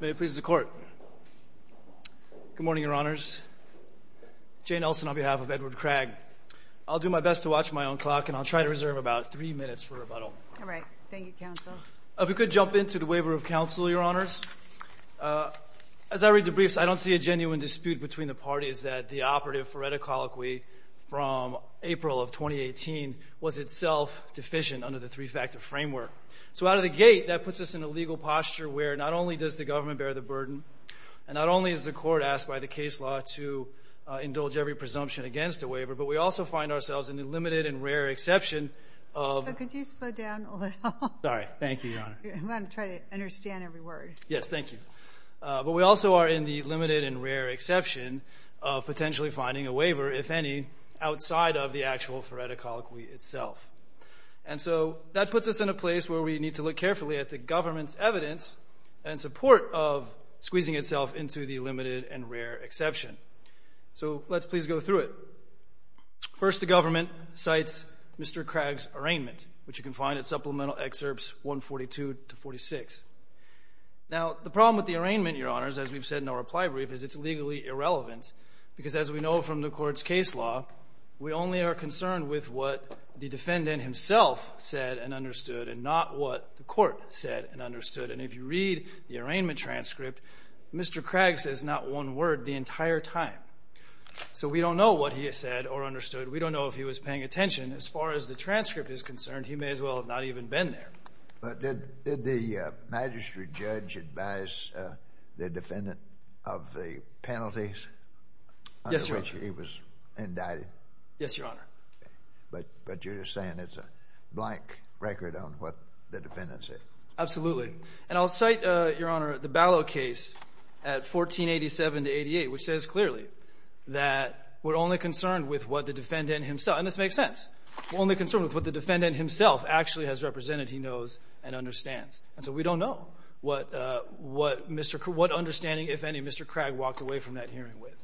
May it please the Court. Good morning, Your Honors. Jane Elson on behalf of Edward Cragg. I'll do my best to watch my own clock, and I'll try to reserve about three minutes for rebuttal. All right. Thank you, Counsel. If we could jump into the waiver of counsel, Your Honors. As I read the briefs, I don't see a genuine dispute between the parties that the operative phoreticology from April of 2018 was itself deficient under the three-factor framework. So out of the gate, that puts us in a legal posture where not only does the government bear the burden, and not only is the Court asked by the case law to indulge every presumption against a waiver, but we also find ourselves in the limited and rare exception of So could you slow down a little? Sorry. Thank you, Your Honor. I'm going to try to understand every word. Yes. Thank you. But we also are in the limited and rare exception of potentially finding a waiver, if any, outside of the actual phoreticology itself. And so that puts us in a place where we need to look carefully at the government's evidence and support of squeezing itself into the limited and rare exception. So let's please go through it. First the government cites Mr. Craig's arraignment, which you can find at Supplemental Excerpts 142 to 46. Now, the problem with the arraignment, Your Honors, as we've said in our reply brief, is it's legally irrelevant. Because as we know from the Court's case law, we only are what the Court said and understood. And if you read the arraignment transcript, Mr. Craig says not one word the entire time. So we don't know what he has said or understood. We don't know if he was paying attention. As far as the transcript is concerned, he may as well have not even been there. But did the magistrate judge advise the defendant of the penalties under which he was indicted? Yes, Your Honor. But you're just saying it's a blank record on what the defendant said. Absolutely. And I'll cite, Your Honor, the Ballot case at 1487 to 88, which says clearly that we're only concerned with what the defendant himself, and this makes sense, we're only concerned with what the defendant himself actually has represented he knows and understands. And so we don't know what Mr. Craig, what understanding, if any, Mr. Craig walked away from that hearing with.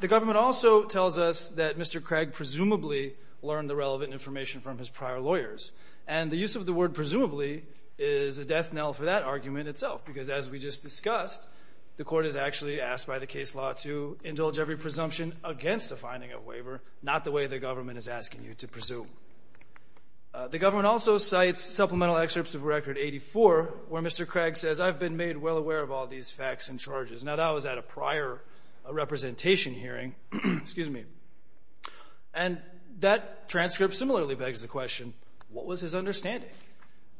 The government also tells us that Mr. Craig presumably learned the relevant information from his prior lawyers. And the use of the word presumably is a death knell for that argument itself, because as we just discussed, the Court has actually asked by the case law to indulge every presumption against the finding of a waiver, not the way the government is asking you to presume. The government also cites supplemental excerpts of Record 84 where Mr. Craig says, I've been made well aware of all these facts and charges. Now, that was at a prior representation hearing. Excuse me. And that transcript similarly begs the question, what was his understanding?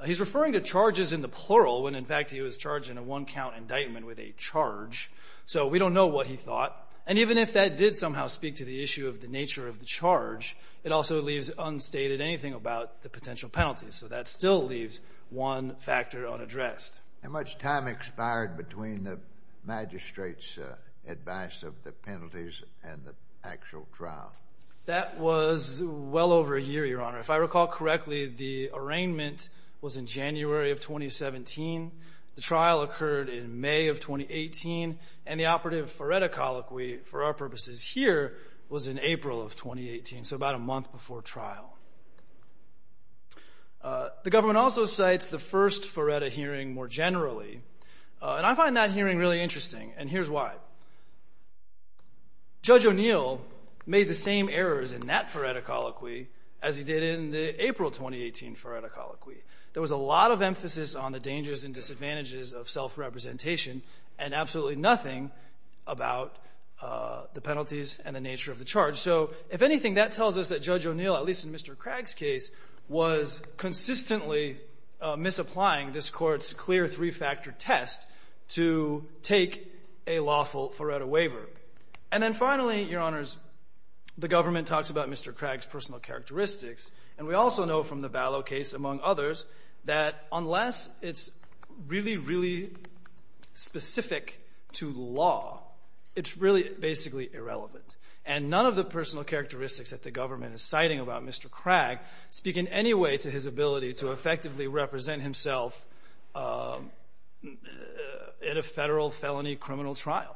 He's referring to charges in the plural when, in fact, he was charged in a one-count indictment with a charge. So we don't know what he thought. And even if that did somehow speak to the issue of the nature of the charge, it also leaves unstated anything about the potential penalty. So that still leaves one factor unaddressed. How much time expired between the magistrate's advice of the penalties and the actual trial? That was well over a year, Your Honor. If I recall correctly, the arraignment was in January of 2017. The trial occurred in May of 2018. And the operative foretta colloquy, for our purposes here, was in April of 2018, so about a month before trial. The government also cites the first foretta hearing more generally. And I find that hearing really interesting, and here's why. Judge O'Neill made the same errors in that foretta colloquy as he did in the April 2018 foretta colloquy. There was a lot of emphasis on the dangers and disadvantages of self-representation and absolutely nothing about the penalties and the nature of the charge. So if anything, that tells us that Judge O'Neill, at least in Mr. Craig's case, was consistently misapplying this Court's clear three-factor test to take a lawful foretta waiver. And then finally, Your Honors, the government talks about Mr. Craig's personal characteristics, and we also know from the Vallow case, among others, that unless it's really, really specific to law, it's really basically irrelevant. And none of the personal characteristics that the government is citing about Mr. Craig speak in any way to his ability to effectively represent himself in a federal felony criminal trial.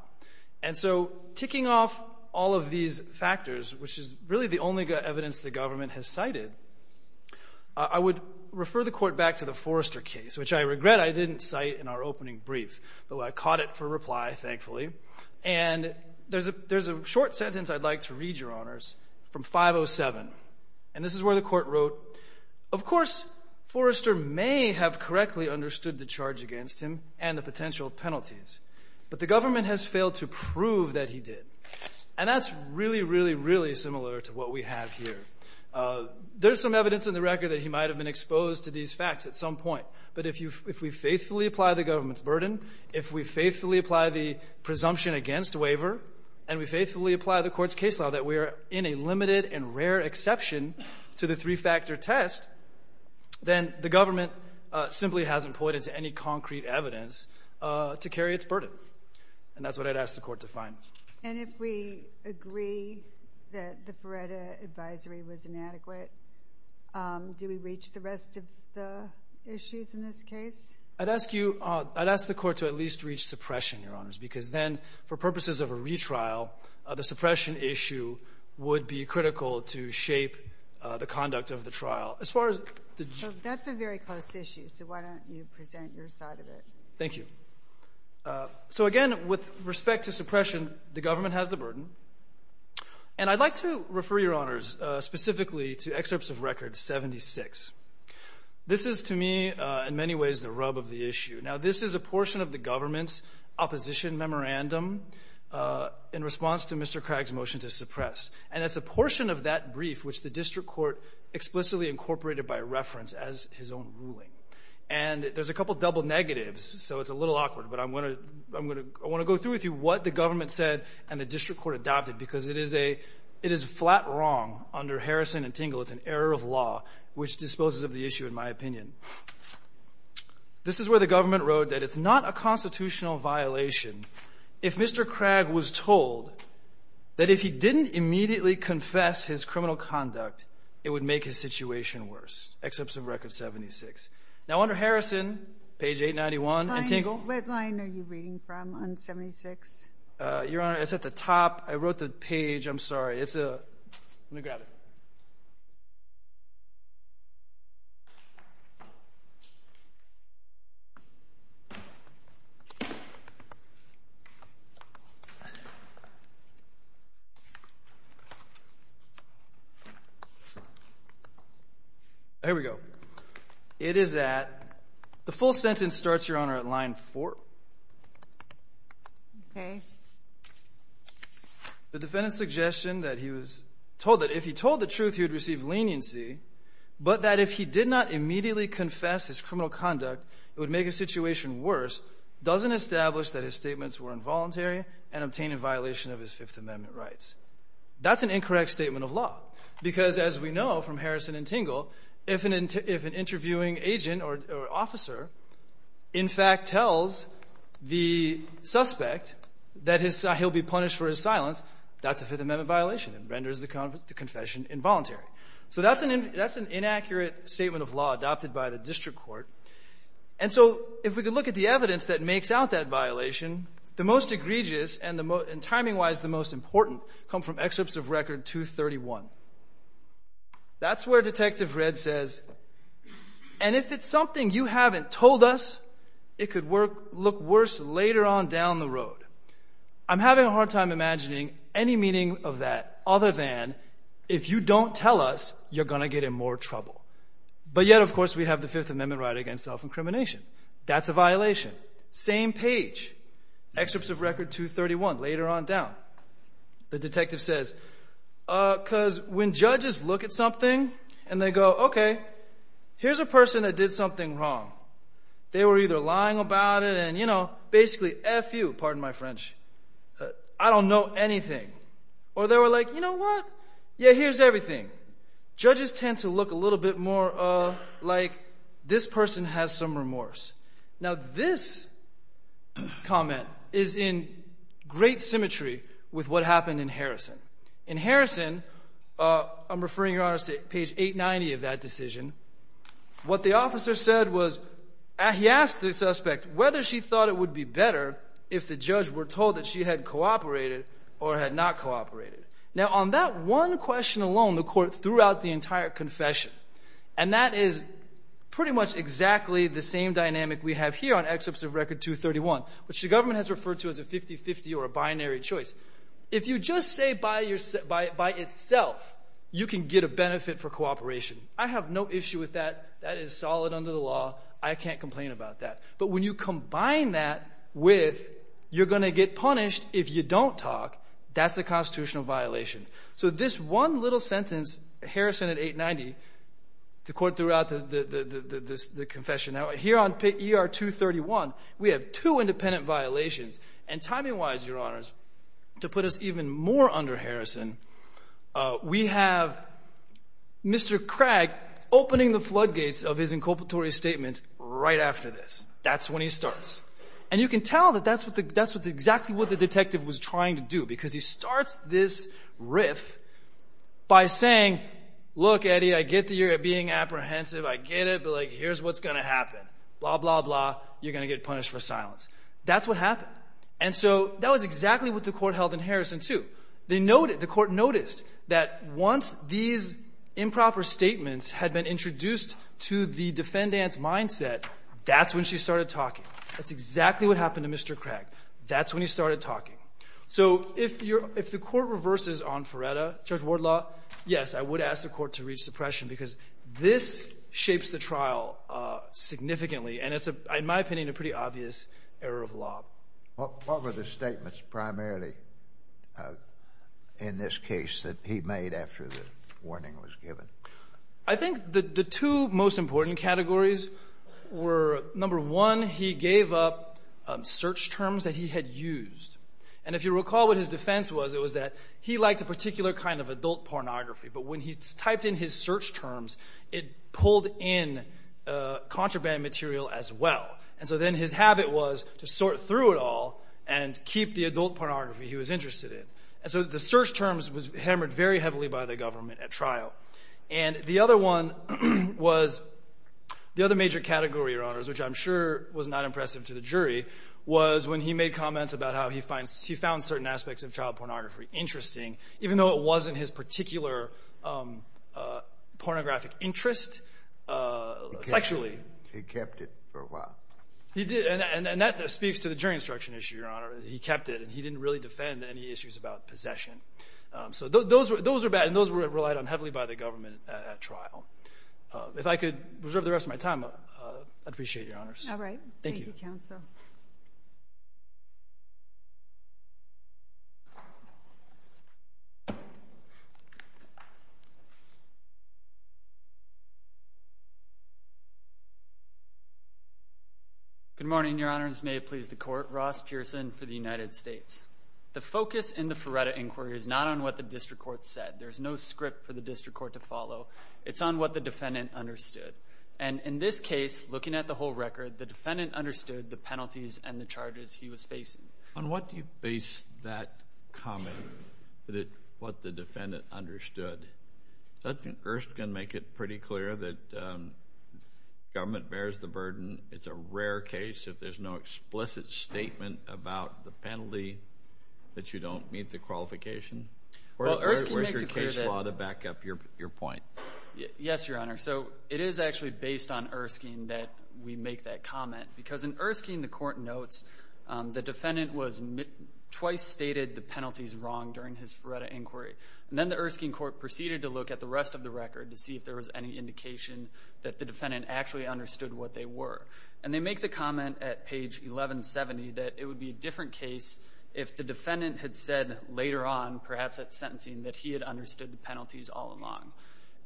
And so, ticking off all of these factors, which is really the only evidence the government has cited, I would refer the Court back to the Forrester case, which I regret I didn't cite in our opening brief, but I caught it for reply, thankfully. And there's a short sentence I'd like to read, Your Honors, from 507. And this is where the Court wrote, of course Forrester may have correctly understood the charge against him and the potential penalties, but the government has failed to prove that he did. And that's really, really, really similar to what we have here. There's some point. But if we faithfully apply the government's burden, if we faithfully apply the presumption against waiver, and we faithfully apply the Court's case law that we are in a limited and rare exception to the three-factor test, then the government simply hasn't pointed to any concrete evidence to carry its burden. And that's what I'd ask the Court to find. And if we agree that the Feretta advisory was inadequate, do we reach the rest of the issues in this case? I'd ask you, I'd ask the Court to at least reach suppression, Your Honors, because then, for purposes of a retrial, the suppression issue would be critical to shape the conduct of the trial. As far as the... That's a very close issue, so why don't you present your side of it? Thank you. So, again, with respect to suppression, the government has the burden. And I'd like to refer, Your Honors, specifically to excerpts of Record 76. This is, to me, in many ways, the rub of the issue. Now, this is a portion of the government's opposition memorandum in response to Mr. Craig's motion to suppress. And it's a portion of that brief which the District Court explicitly incorporated by reference as his own ruling. And there's a couple double negatives, so it's a little awkward, but I'm going to go through with you what the government said and the District Court adopted, because it is a flat wrong under Harrison and Tingle. It's an error of law which disposes of the issue, in my opinion. This is where the government wrote that it's not a constitutional violation if Mr. Craig was told that if he didn't immediately confess his criminal conduct, it would make his situation worse. Excerpts of Record 76. Now, under Harrison, page 891, and Tingle... What line are you reading from on 76? Your Honor, it's at the top. I wrote the page. I'm sorry. It's a... Let me grab it. Here we go. It is at... The full sentence starts, Your Honor, at line 4. Okay. The defendant's suggestion that he was told that if he told the truth, he would receive leniency, but that if he did not immediately confess his criminal conduct, it would make his situation worse doesn't establish that his statements were involuntary and obtained in violation of his Fifth Amendment rights. That's an incorrect statement of law, because as we know from Harrison and Tingle, if an interviewing agent or officer, in fact, tells the suspect that he'll be punished for his silence, that's a Fifth Amendment violation. It renders the confession involuntary. So that's an inaccurate statement of law adopted by the District Court. And so if we could look at the evidence that makes out that violation, the most egregious and the most... And timing-wise, the most important come from excerpts of Record 231. That's where Detective Redd says, and if it's something you haven't told us, it could work... Look worse later on down the road. I'm having a hard time imagining any meaning of that other than if you don't tell us, you're going to get in more trouble. But yet, of course, we have the Fifth Amendment right against self-incrimination. That's a violation. Same page. Excerpts of Record 231, later on down. The detective says, because when judges look at something and they go, okay, here's a person that did something wrong. They were either lying about it and, you know, basically F you, pardon my French. I don't know anything. Or they were like, you know what? Yeah, here's everything. Judges tend to look a little bit more like this person has some remorse. Now, this comment is in great symmetry with what happened in Harrison. In Harrison, I'm referring, Your Honor, to page 890 of that decision. What the officer said was, he asked the suspect whether she thought it would be better if the judge were told that she had cooperated or had not cooperated. Now, on that one question alone, the court threw out the entire confession. And that is pretty much exactly the same dynamic we have here on excerpts of Record 231, which the government has referred to as a 50-50 or a binary choice. If you just say by itself, you can get a benefit for cooperation. I have no issue with that. That is solid under the law. I can't complain about that. But when you combine that with, you're going to get punished if you don't talk, that's a constitutional violation. So this one little sentence, Harrison at 890, the court threw out the confession. Now, here on ER 231, we have two independent violations. And timing-wise, Your Honors, to put us even more under Harrison, we have Mr. Craig opening the floodgates of his inculpatory statements right after this. That's when he starts. And you can tell that that's what the detective was trying to do, because he starts this riff by saying, Look, Eddie, I get that you're being apprehensive. I get it. But, like, here's what's going to happen. Blah, blah, blah. You're going to get punished for silence. That's what happened. And so that was exactly what the court held in Harrison, too. The court noticed that once these improper statements had been introduced to the defendant's mindset, that's when she started talking. That's exactly what happened to Mr. Craig. That's when he started talking. So if you're — if the court reverses on Ferretta, Judge Wardlaw, yes, I would ask the court to reach suppression, because this shapes the trial significantly, and it's, in my opinion, a pretty obvious error of law. What were the statements primarily in this case that he made after the warning was given? I think the two most important categories were, number one, he gave up search terms that he had used. And if you recall what his defense was, it was that he liked a particular kind of adult pornography. But when he typed in his search terms, it pulled in contraband material as well. And so then his habit was to sort through it all and keep the adult pornography he was interested in. And so the search terms was hammered very heavily by the government at trial. And the other one was — the other major category, Your Honors, which I'm sure was not impressive to the jury, was when he made comments about how he found certain aspects of child pornography interesting, even though it wasn't his particular pornographic interest sexually. He kept it. He kept it for a while. He did. And that speaks to the jury instruction issue, Your Honor. He kept it. And he didn't really defend any issues about possession. So those were bad, and those were relied on heavily by the government at trial. If I could reserve the rest of my time, I'd appreciate it, Your Honors. All right. Thank you, Counsel. Thank you. Good morning, Your Honors. May it please the Court. Ross Pearson for the United States. The focus in the Feretta Inquiry is not on what the district court said. There's no script for the district court to follow. It's on what the defendant understood. And in this case, looking at the whole record, the defendant understood the penalties and the charges he was facing. On what do you base that comment, that it — what the defendant understood? Sergeant Gerst can make it pretty clear that government bears the burden. It's a rare case if there's no explicit statement about the penalty that you don't meet the qualification. Well, Erskine makes it clear that — What is your case law to back up your point? Yes, Your Honor. So it is actually based on Erskine that we make that comment. Because in Erskine, the Court notes the defendant was — twice stated the penalties wrong during his Feretta Inquiry. And then the Erskine Court proceeded to look at the rest of the record to see if there was any indication that the defendant actually understood what they were. And they make the comment at page 1170 that it would be a different case if the defendant had said later on, perhaps at sentencing, that he had understood the penalties all along.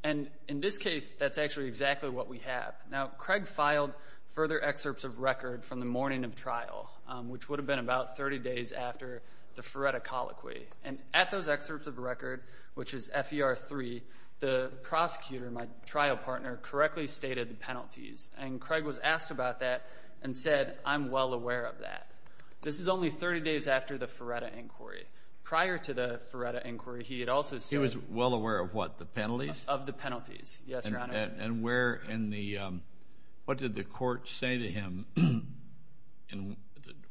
And in this case, that's actually exactly what we have. Now, Craig filed further excerpts of record from the morning of trial, which would have been about 30 days after the Feretta Colloquy. And at those excerpts of record, which is FER3, the prosecutor, my trial partner, correctly stated the penalties. And Craig was asked about that and said, I'm well aware of that. This is only 30 days after the Feretta Inquiry. Prior to the Feretta Inquiry, he had also — He was well aware of what? The penalties? Of the penalties. Yes, Your Honor. And where in the — what did the court say to him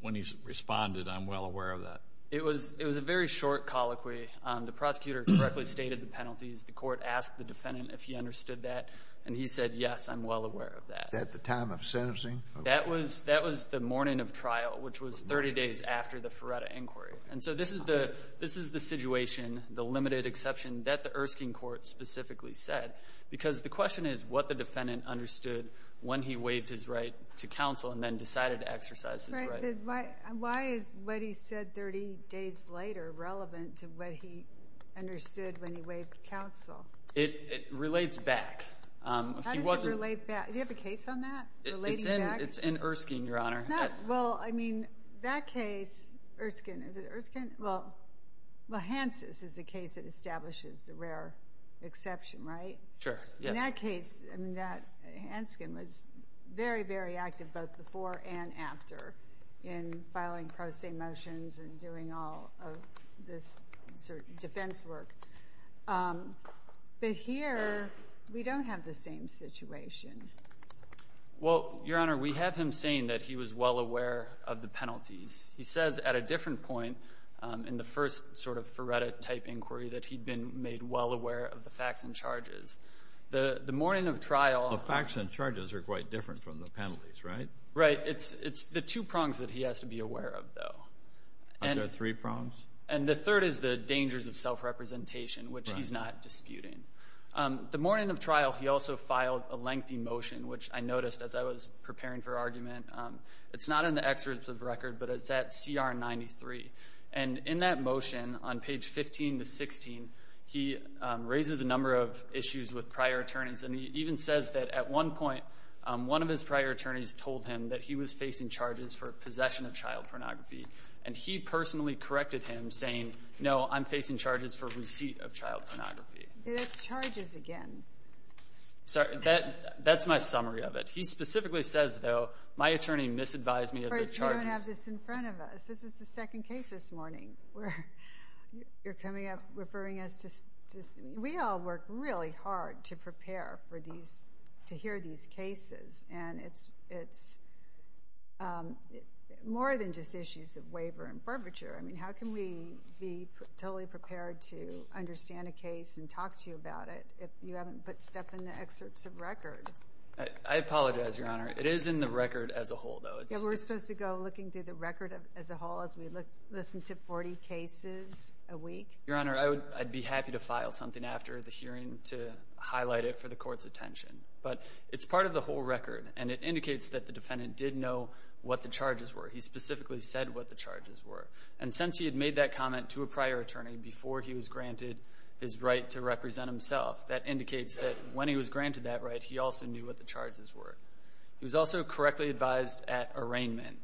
when he responded, I'm well aware of that? It was a very short colloquy. The prosecutor correctly stated the penalties. The court asked the defendant if he understood that. And he said, yes, I'm well aware of that. At the time of sentencing? That was — that was the morning of trial, which was 30 days after the Feretta Inquiry. And so this is the — this is the situation, the limited exception, that the Erskine Court specifically said. Because the question is what the defendant understood when he waived his right to counsel and then decided to exercise his right. But why is what he said 30 days later relevant to what he understood when he waived counsel? It relates back. He wasn't — How does it relate back? Do you have a case on that? Relating back? It's in — it's in Erskine, Your Honor. Well, I mean, that case, Erskine — is it Erskine? Well, well, Hansen's is the case that establishes the rare exception, right? Sure, yes. But in that case, I mean, that — Hansen was very, very active both before and after in filing pro se motions and doing all of this sort of defense work. But here, we don't have the same situation. Well, Your Honor, we have him saying that he was well aware of the penalties. He says at a different point in the first sort of Feretta-type inquiry that he'd been made well aware of the facts and charges. The morning of trial — The facts and charges are quite different from the penalties, right? Right. It's the two prongs that he has to be aware of, though. Are there three prongs? And the third is the dangers of self-representation, which he's not disputing. The morning of trial, he also filed a lengthy motion, which I noticed as I was preparing for argument. It's not in the excerpt of the record, but it's at CR 93. And in that motion, on page 15 to 16, he raises a number of issues with prior attorneys. And he even says that at one point, one of his prior attorneys told him that he was facing charges for possession of child pornography. And he personally corrected him, saying, no, I'm facing charges for receipt of child pornography. That's charges again. Sorry. That's my summary of it. He specifically says, though, my attorney misadvised me of the charges. You don't have this in front of us. This is the second case this morning. You're coming up referring us to—we all work really hard to prepare for these, to hear these cases. And it's more than just issues of waiver and barbature. I mean, how can we be totally prepared to understand a case and talk to you about it if you haven't put stuff in the excerpts of record? I apologize, Your Honor. It is in the record as a whole, though. Yeah, we're supposed to go looking through the record as a whole as we listen to 40 cases a week. Your Honor, I'd be happy to file something after the hearing to highlight it for the Court's attention. But it's part of the whole record. And it indicates that the defendant did know what the charges were. He specifically said what the charges were. And since he had made that comment to a prior attorney before he was granted his right to represent himself, that indicates that when he was granted that right, he also knew what the charges were. He was also correctly advised at arraignment.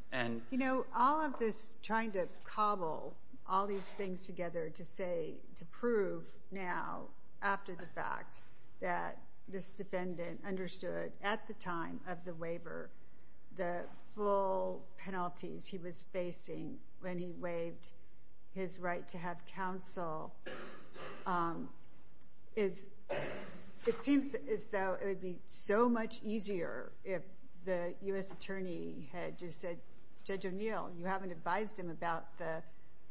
You know, all of this trying to cobble all these things together to say—to prove now, after the fact, that this defendant understood at the time of the waiver the full penalties he was facing when he waived his right to have counsel is—it seems as though it would be so much easier if the U.S. attorney had just said, Judge O'Neill, you haven't advised him about the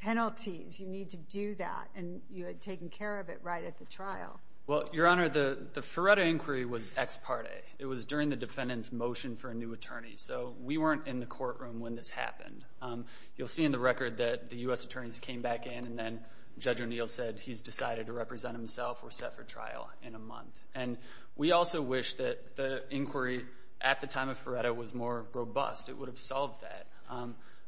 penalties. You need to do that. And you had taken care of it right at the trial. Well, Your Honor, the Ferretta inquiry was ex parte. It was during the defendant's motion for a new attorney. So we weren't in the courtroom when this happened. You'll see in the record that the U.S. attorneys came back in, and then Judge O'Neill said he's decided to represent himself or set for trial in a month. And we also wish that the inquiry at the time of Ferretta was more robust. It would have solved that.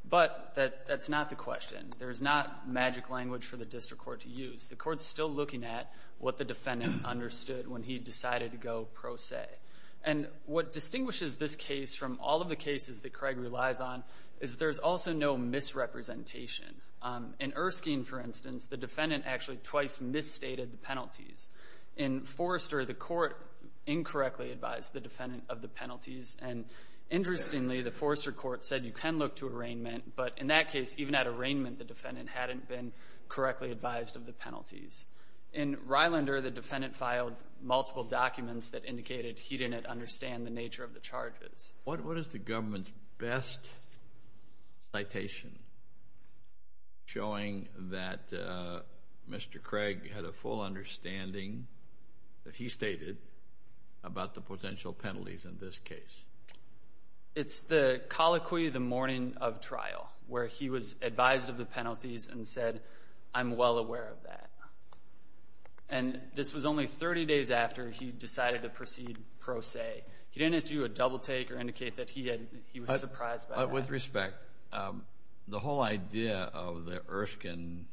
But that's not the question. There's not magic language for the district court to use. The court's still looking at what the defendant understood when he decided to go pro se. And what distinguishes this case from all of the cases that Craig relies on is there's also no misrepresentation. In Erskine, for instance, the defendant actually twice misstated the penalties. In Forrester, the court incorrectly advised the defendant of the penalties. And interestingly, the Forrester court said you can look to arraignment. But in that case, even at arraignment, the defendant hadn't been correctly advised of the penalties. In Rylander, the defendant filed multiple documents that indicated he didn't understand the nature of the charges. What is the government's best citation showing that Mr. Craig had a full understanding that he stated about the potential penalties in this case? It's the colloquy, the morning of trial, where he was advised of the penalties and said, I'm well aware of that. And this was only 30 days after he decided to proceed pro se. He didn't do a double take or indicate that he was surprised by that. With respect, the whole idea of the Erskine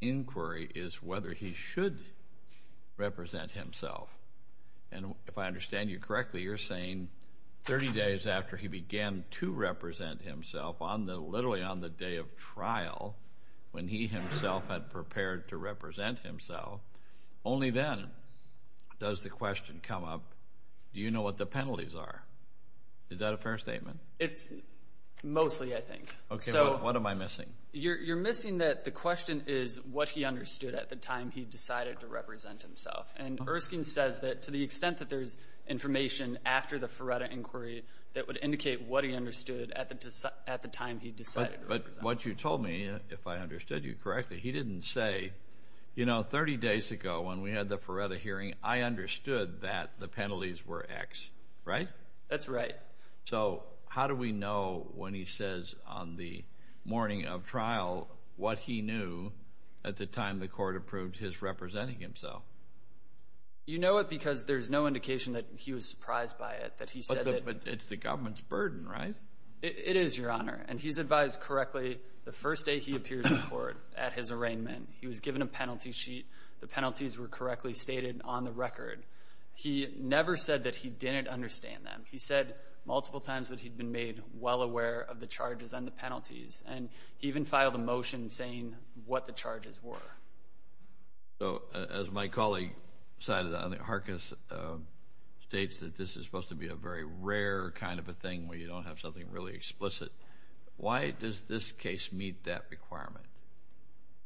inquiry is whether he should represent himself. And if I understand you correctly, you're saying 30 days after he began to represent himself, literally on the day of trial, when he himself had prepared to represent himself, only then does the question come up, do you know what the penalties are? Is that a fair statement? It's mostly, I think. Okay, what am I missing? You're missing that the question is what he understood at the time he decided to represent himself. And Erskine says that to the extent that there's information after the Ferretta inquiry that would indicate what he understood at the time he decided to represent himself. But what you told me, if I understood you correctly, he didn't say, you know, 30 days ago when we had the Ferretta hearing, I understood that the penalties were X, right? That's right. So how do we know when he says on the morning of trial what he knew at the time the court approved his representing himself? You know it because there's no indication that he was surprised by it, that he said that... But it's the government's burden, right? It is, Your Honor. And he's advised correctly the first day he appears in court at his arraignment, he was given a penalty sheet, the penalties were correctly stated on the record. He never said that he didn't understand them. He said multiple times that he'd been made well aware of the charges and the penalties, and he even filed a motion saying what the charges were. So as my colleague cited on the Harkness states that this is supposed to be a very rare kind of a thing where you don't have something really explicit. Why does this case meet that requirement?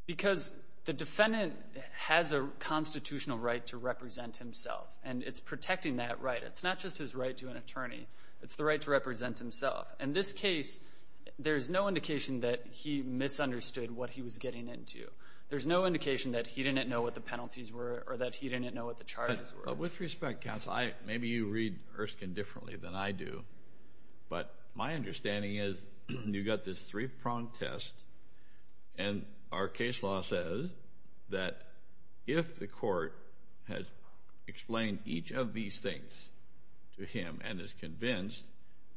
Because the defendant has a constitutional right to represent himself, and it's protecting that right. It's not just his right to an attorney, it's the right to represent himself. In this case, there's no indication that he misunderstood what he was getting into. There's no indication that he didn't know what the penalties were or that he didn't know what the charges were. With respect, counsel, maybe you read Erskine differently than I do, but my understanding is you've got this three-pronged test, and our case law says that if the court has explained each of these things to him and is convinced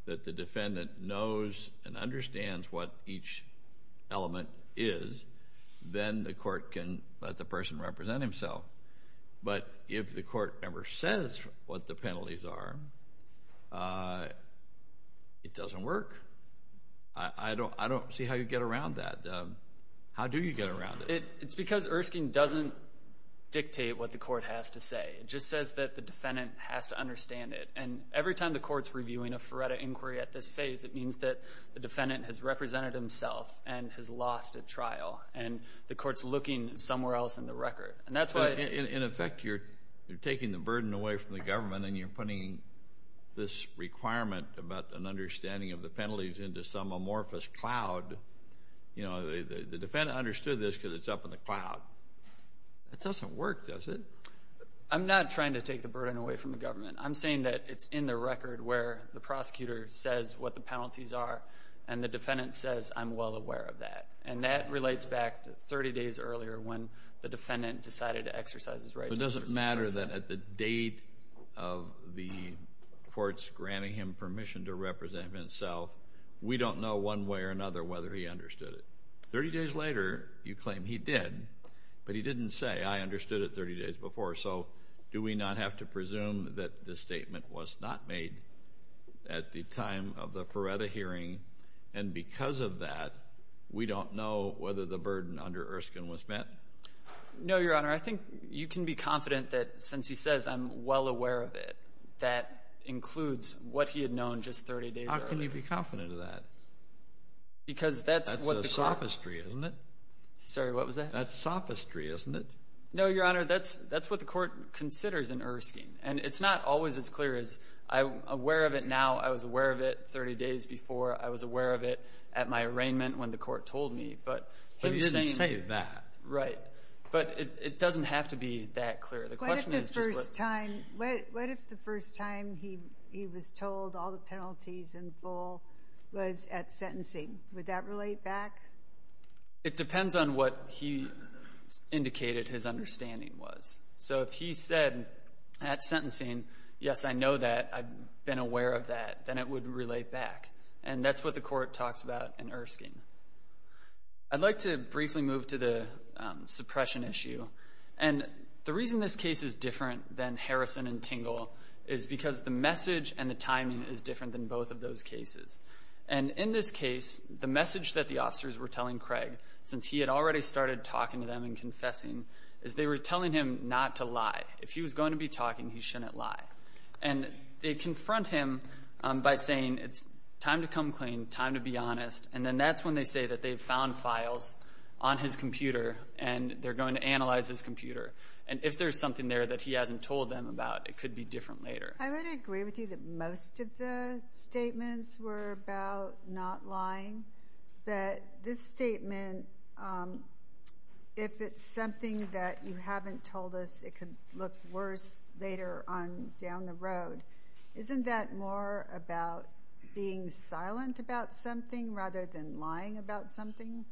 that the defendant knows and understands what each element is, then the court can let the person represent himself. But if the court never says what the penalties are, it doesn't work. I don't see how you get around that. How do you get around it? It's because Erskine doesn't dictate what the court has to say. It just says that the defendant has to understand it. And every time the court's reviewing a FARETA inquiry at this phase, it means that the defendant has represented himself and has lost at trial, and the court's looking somewhere else in the record. In effect, you're taking the burden away from the government, and you're putting this requirement about an understanding of the penalties into some amorphous cloud. The defendant understood this because it's up in the cloud. It doesn't work, does it? I'm not trying to take the burden away from the government. I'm saying that it's in the what the penalties are, and the defendant says, I'm well aware of that. And that relates back to 30 days earlier when the defendant decided to exercise his right to represent himself. But it doesn't matter that at the date of the court's granting him permission to represent himself, we don't know one way or another whether he understood it. Thirty days later, you claim he did, but he didn't say, I understood it 30 days before. So do we not have to presume that the statement was not made at the time of the Feretta hearing, and because of that, we don't know whether the burden under Erskine was met? No, Your Honor. I think you can be confident that since he says, I'm well aware of it, that includes what he had known just 30 days earlier. How can you be confident of that? Because that's what the court— That's a sophistry, isn't it? Sorry, what was that? That's sophistry, isn't it? No, Your Honor, that's what the court considers in Erskine. And it's not always as clear as, I'm aware of it now, I was aware of it 30 days before, I was aware of it at my arraignment when the court told me, but— But he didn't say that. Right. But it doesn't have to be that clear. The question is— What if the first time he was told all the penalties in full was at sentencing? Would that relate back? It depends on what he indicated his understanding was. So if he said at sentencing, yes, I know that, I've been aware of that, then it would relate back. And that's what the court talks about in Erskine. I'd like to briefly move to the suppression issue. And the reason this case is different than Harrison and Tingle is because the message and the timing is different than both of those since he had already started talking to them and confessing, is they were telling him not to lie. If he was going to be talking, he shouldn't lie. And they confront him by saying it's time to come clean, time to be honest, and then that's when they say that they've found files on his computer and they're going to analyze his computer. And if there's something there that he hasn't told them about, it could be different later. I would agree with you that most of the statements were about not lying. But this statement, if it's something that you haven't told us, it could look worse later on down the road. Isn't that more about being silent about something rather than lying about something?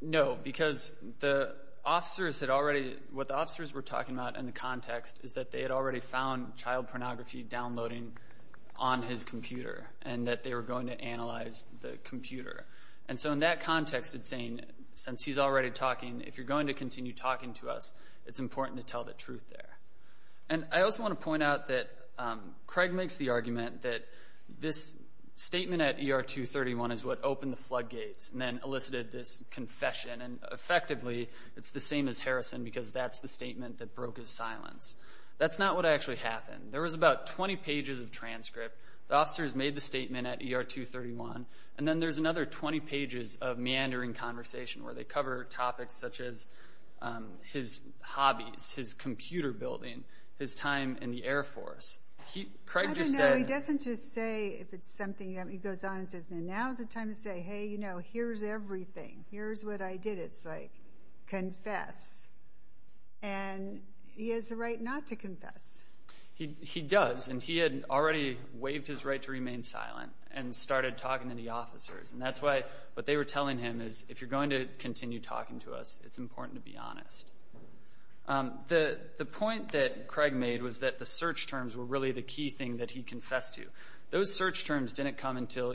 No, because the officers had already, what the officers were talking about in the context is that they had already found child pornography downloading on his computer and that they were going to analyze the computer. And so in that context, it's saying, since he's already talking, if you're going to continue talking to us, it's important to tell the truth there. And I also want to point out that Craig makes the argument that this statement at ER 231 is what opened the floodgates and then elicited this confession. And effectively, it's the statement that broke his silence. That's not what actually happened. There was about 20 pages of transcript. The officers made the statement at ER 231. And then there's another 20 pages of meandering conversation where they cover topics such as his hobbies, his computer building, his time in the Air Force. Craig just said... I don't know. He doesn't just say if it's something... He goes on and says, now's the time to say, hey, you know, here's everything. Here's what I did. It's like, confess. And he has the right not to confess. He does. And he had already waived his right to remain silent and started talking to the officers. And that's why what they were telling him is, if you're going to continue talking to us, it's important to be honest. The point that Craig made was that the search terms were really the key thing that he confessed to. Those search terms didn't come until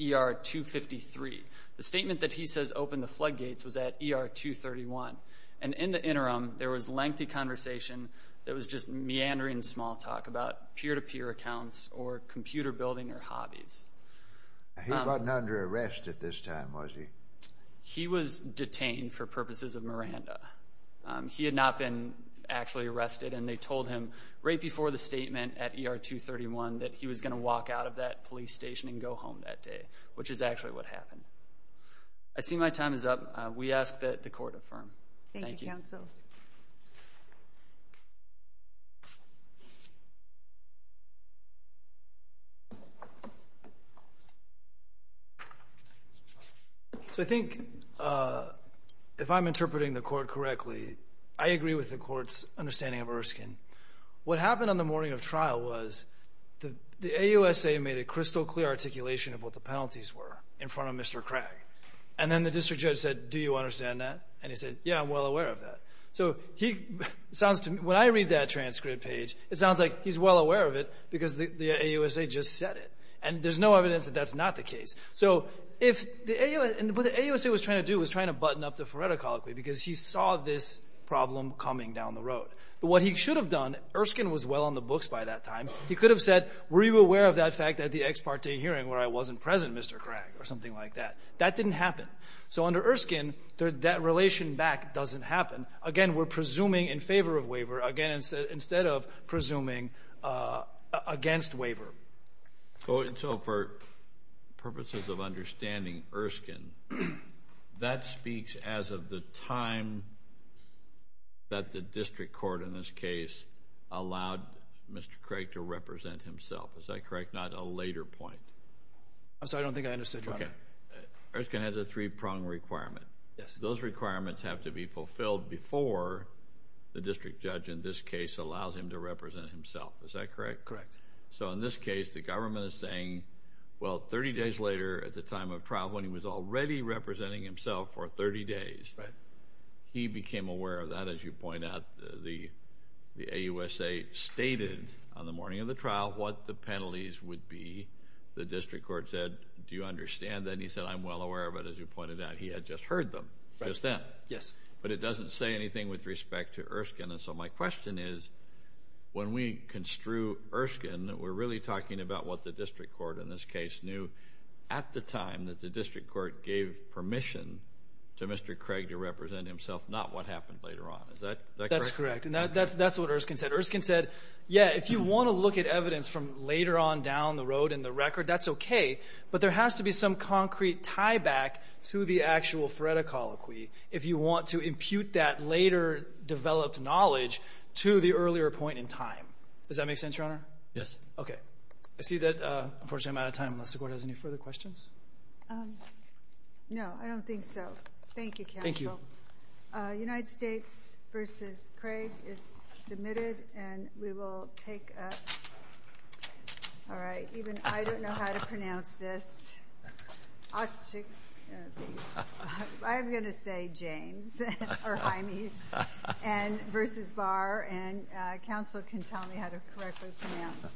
ER 253. The statement that he says opened the floodgates was at ER 231. And in the interim, there was lengthy conversation that was just meandering small talk about peer-to-peer accounts or computer building or hobbies. He wasn't under arrest at this time, was he? He was detained for purposes of Miranda. He had not been actually arrested. And they told him right before the statement at ER 231 that he was going to walk out of that police station and go home that day, which is actually what happened. I see my time is up. We ask that the Court affirm. Thank you, Counsel. So I think, if I'm interpreting the Court correctly, I agree with the Court's understanding of Erskine. What happened on the morning of trial was the AUSA made a crystal-clear articulation of what the penalties were in front of Mr. Craig. And then the district judge said, do you understand that? And he said, yeah, I'm well aware of that. So when I read that transcript page, it sounds like he's well aware of it because the AUSA just said it. And there's no evidence that that's not the case. So what the AUSA was trying to do was trying to button up the phoreticology because he saw this problem coming down the road. But what he should have done, Erskine was well on the books by that time. He could have said, were you aware of that fact at the ex parte hearing where I wasn't present, Mr. Craig, or something like that. That didn't happen. So under Erskine, that relation back doesn't happen. Again, we're presuming in favor of waiver, again, instead of presuming against waiver. So for purposes of understanding, Erskine, that speaks as of the time that the district court in this case allowed Mr. Craig to represent himself. Is that correct? Not a later point? I'm sorry, I don't think I understood, Your Honor. Erskine has a three-prong requirement. Those requirements have to be fulfilled before the district judge in this case allows him to represent himself. Is that correct? Correct. So in this case, the government is saying, well, 30 days later at the time of trial when he was already representing himself for 30 days, he became aware of that, as you point out. The AUSA stated on the morning of the trial what the penalties would be. The district court said, do you understand that? And he said, I'm well aware of it, as you pointed out. He had just heard them just then. Yes. But it doesn't say anything with respect to Erskine. And so my question is, when we construe Erskine, we're really talking about what the district court in this case knew at the time that the district court gave permission to Mr. Craig to represent himself, not what happened later on. Is that correct? That's correct. And that's what Erskine said. Erskine said, yeah, if you want to look at evidence from later on down the road in the record, that's okay. But there has to be some concrete tie-back to the actual threat of colloquy if you want to impute that later developed knowledge to the earlier point in time. Does that make sense, Your Honor? Yes. Okay. I see that, unfortunately, I'm out of time. Unless the court has any further questions? No, I don't think so. Thank you, counsel. Thank you. United States v. Craig is submitted, and we will take a... All right, even I don't know how to pronounce this. I'm going to say James, or Jaime's, versus Barr, and counsel can tell me how to correctly pronounce this.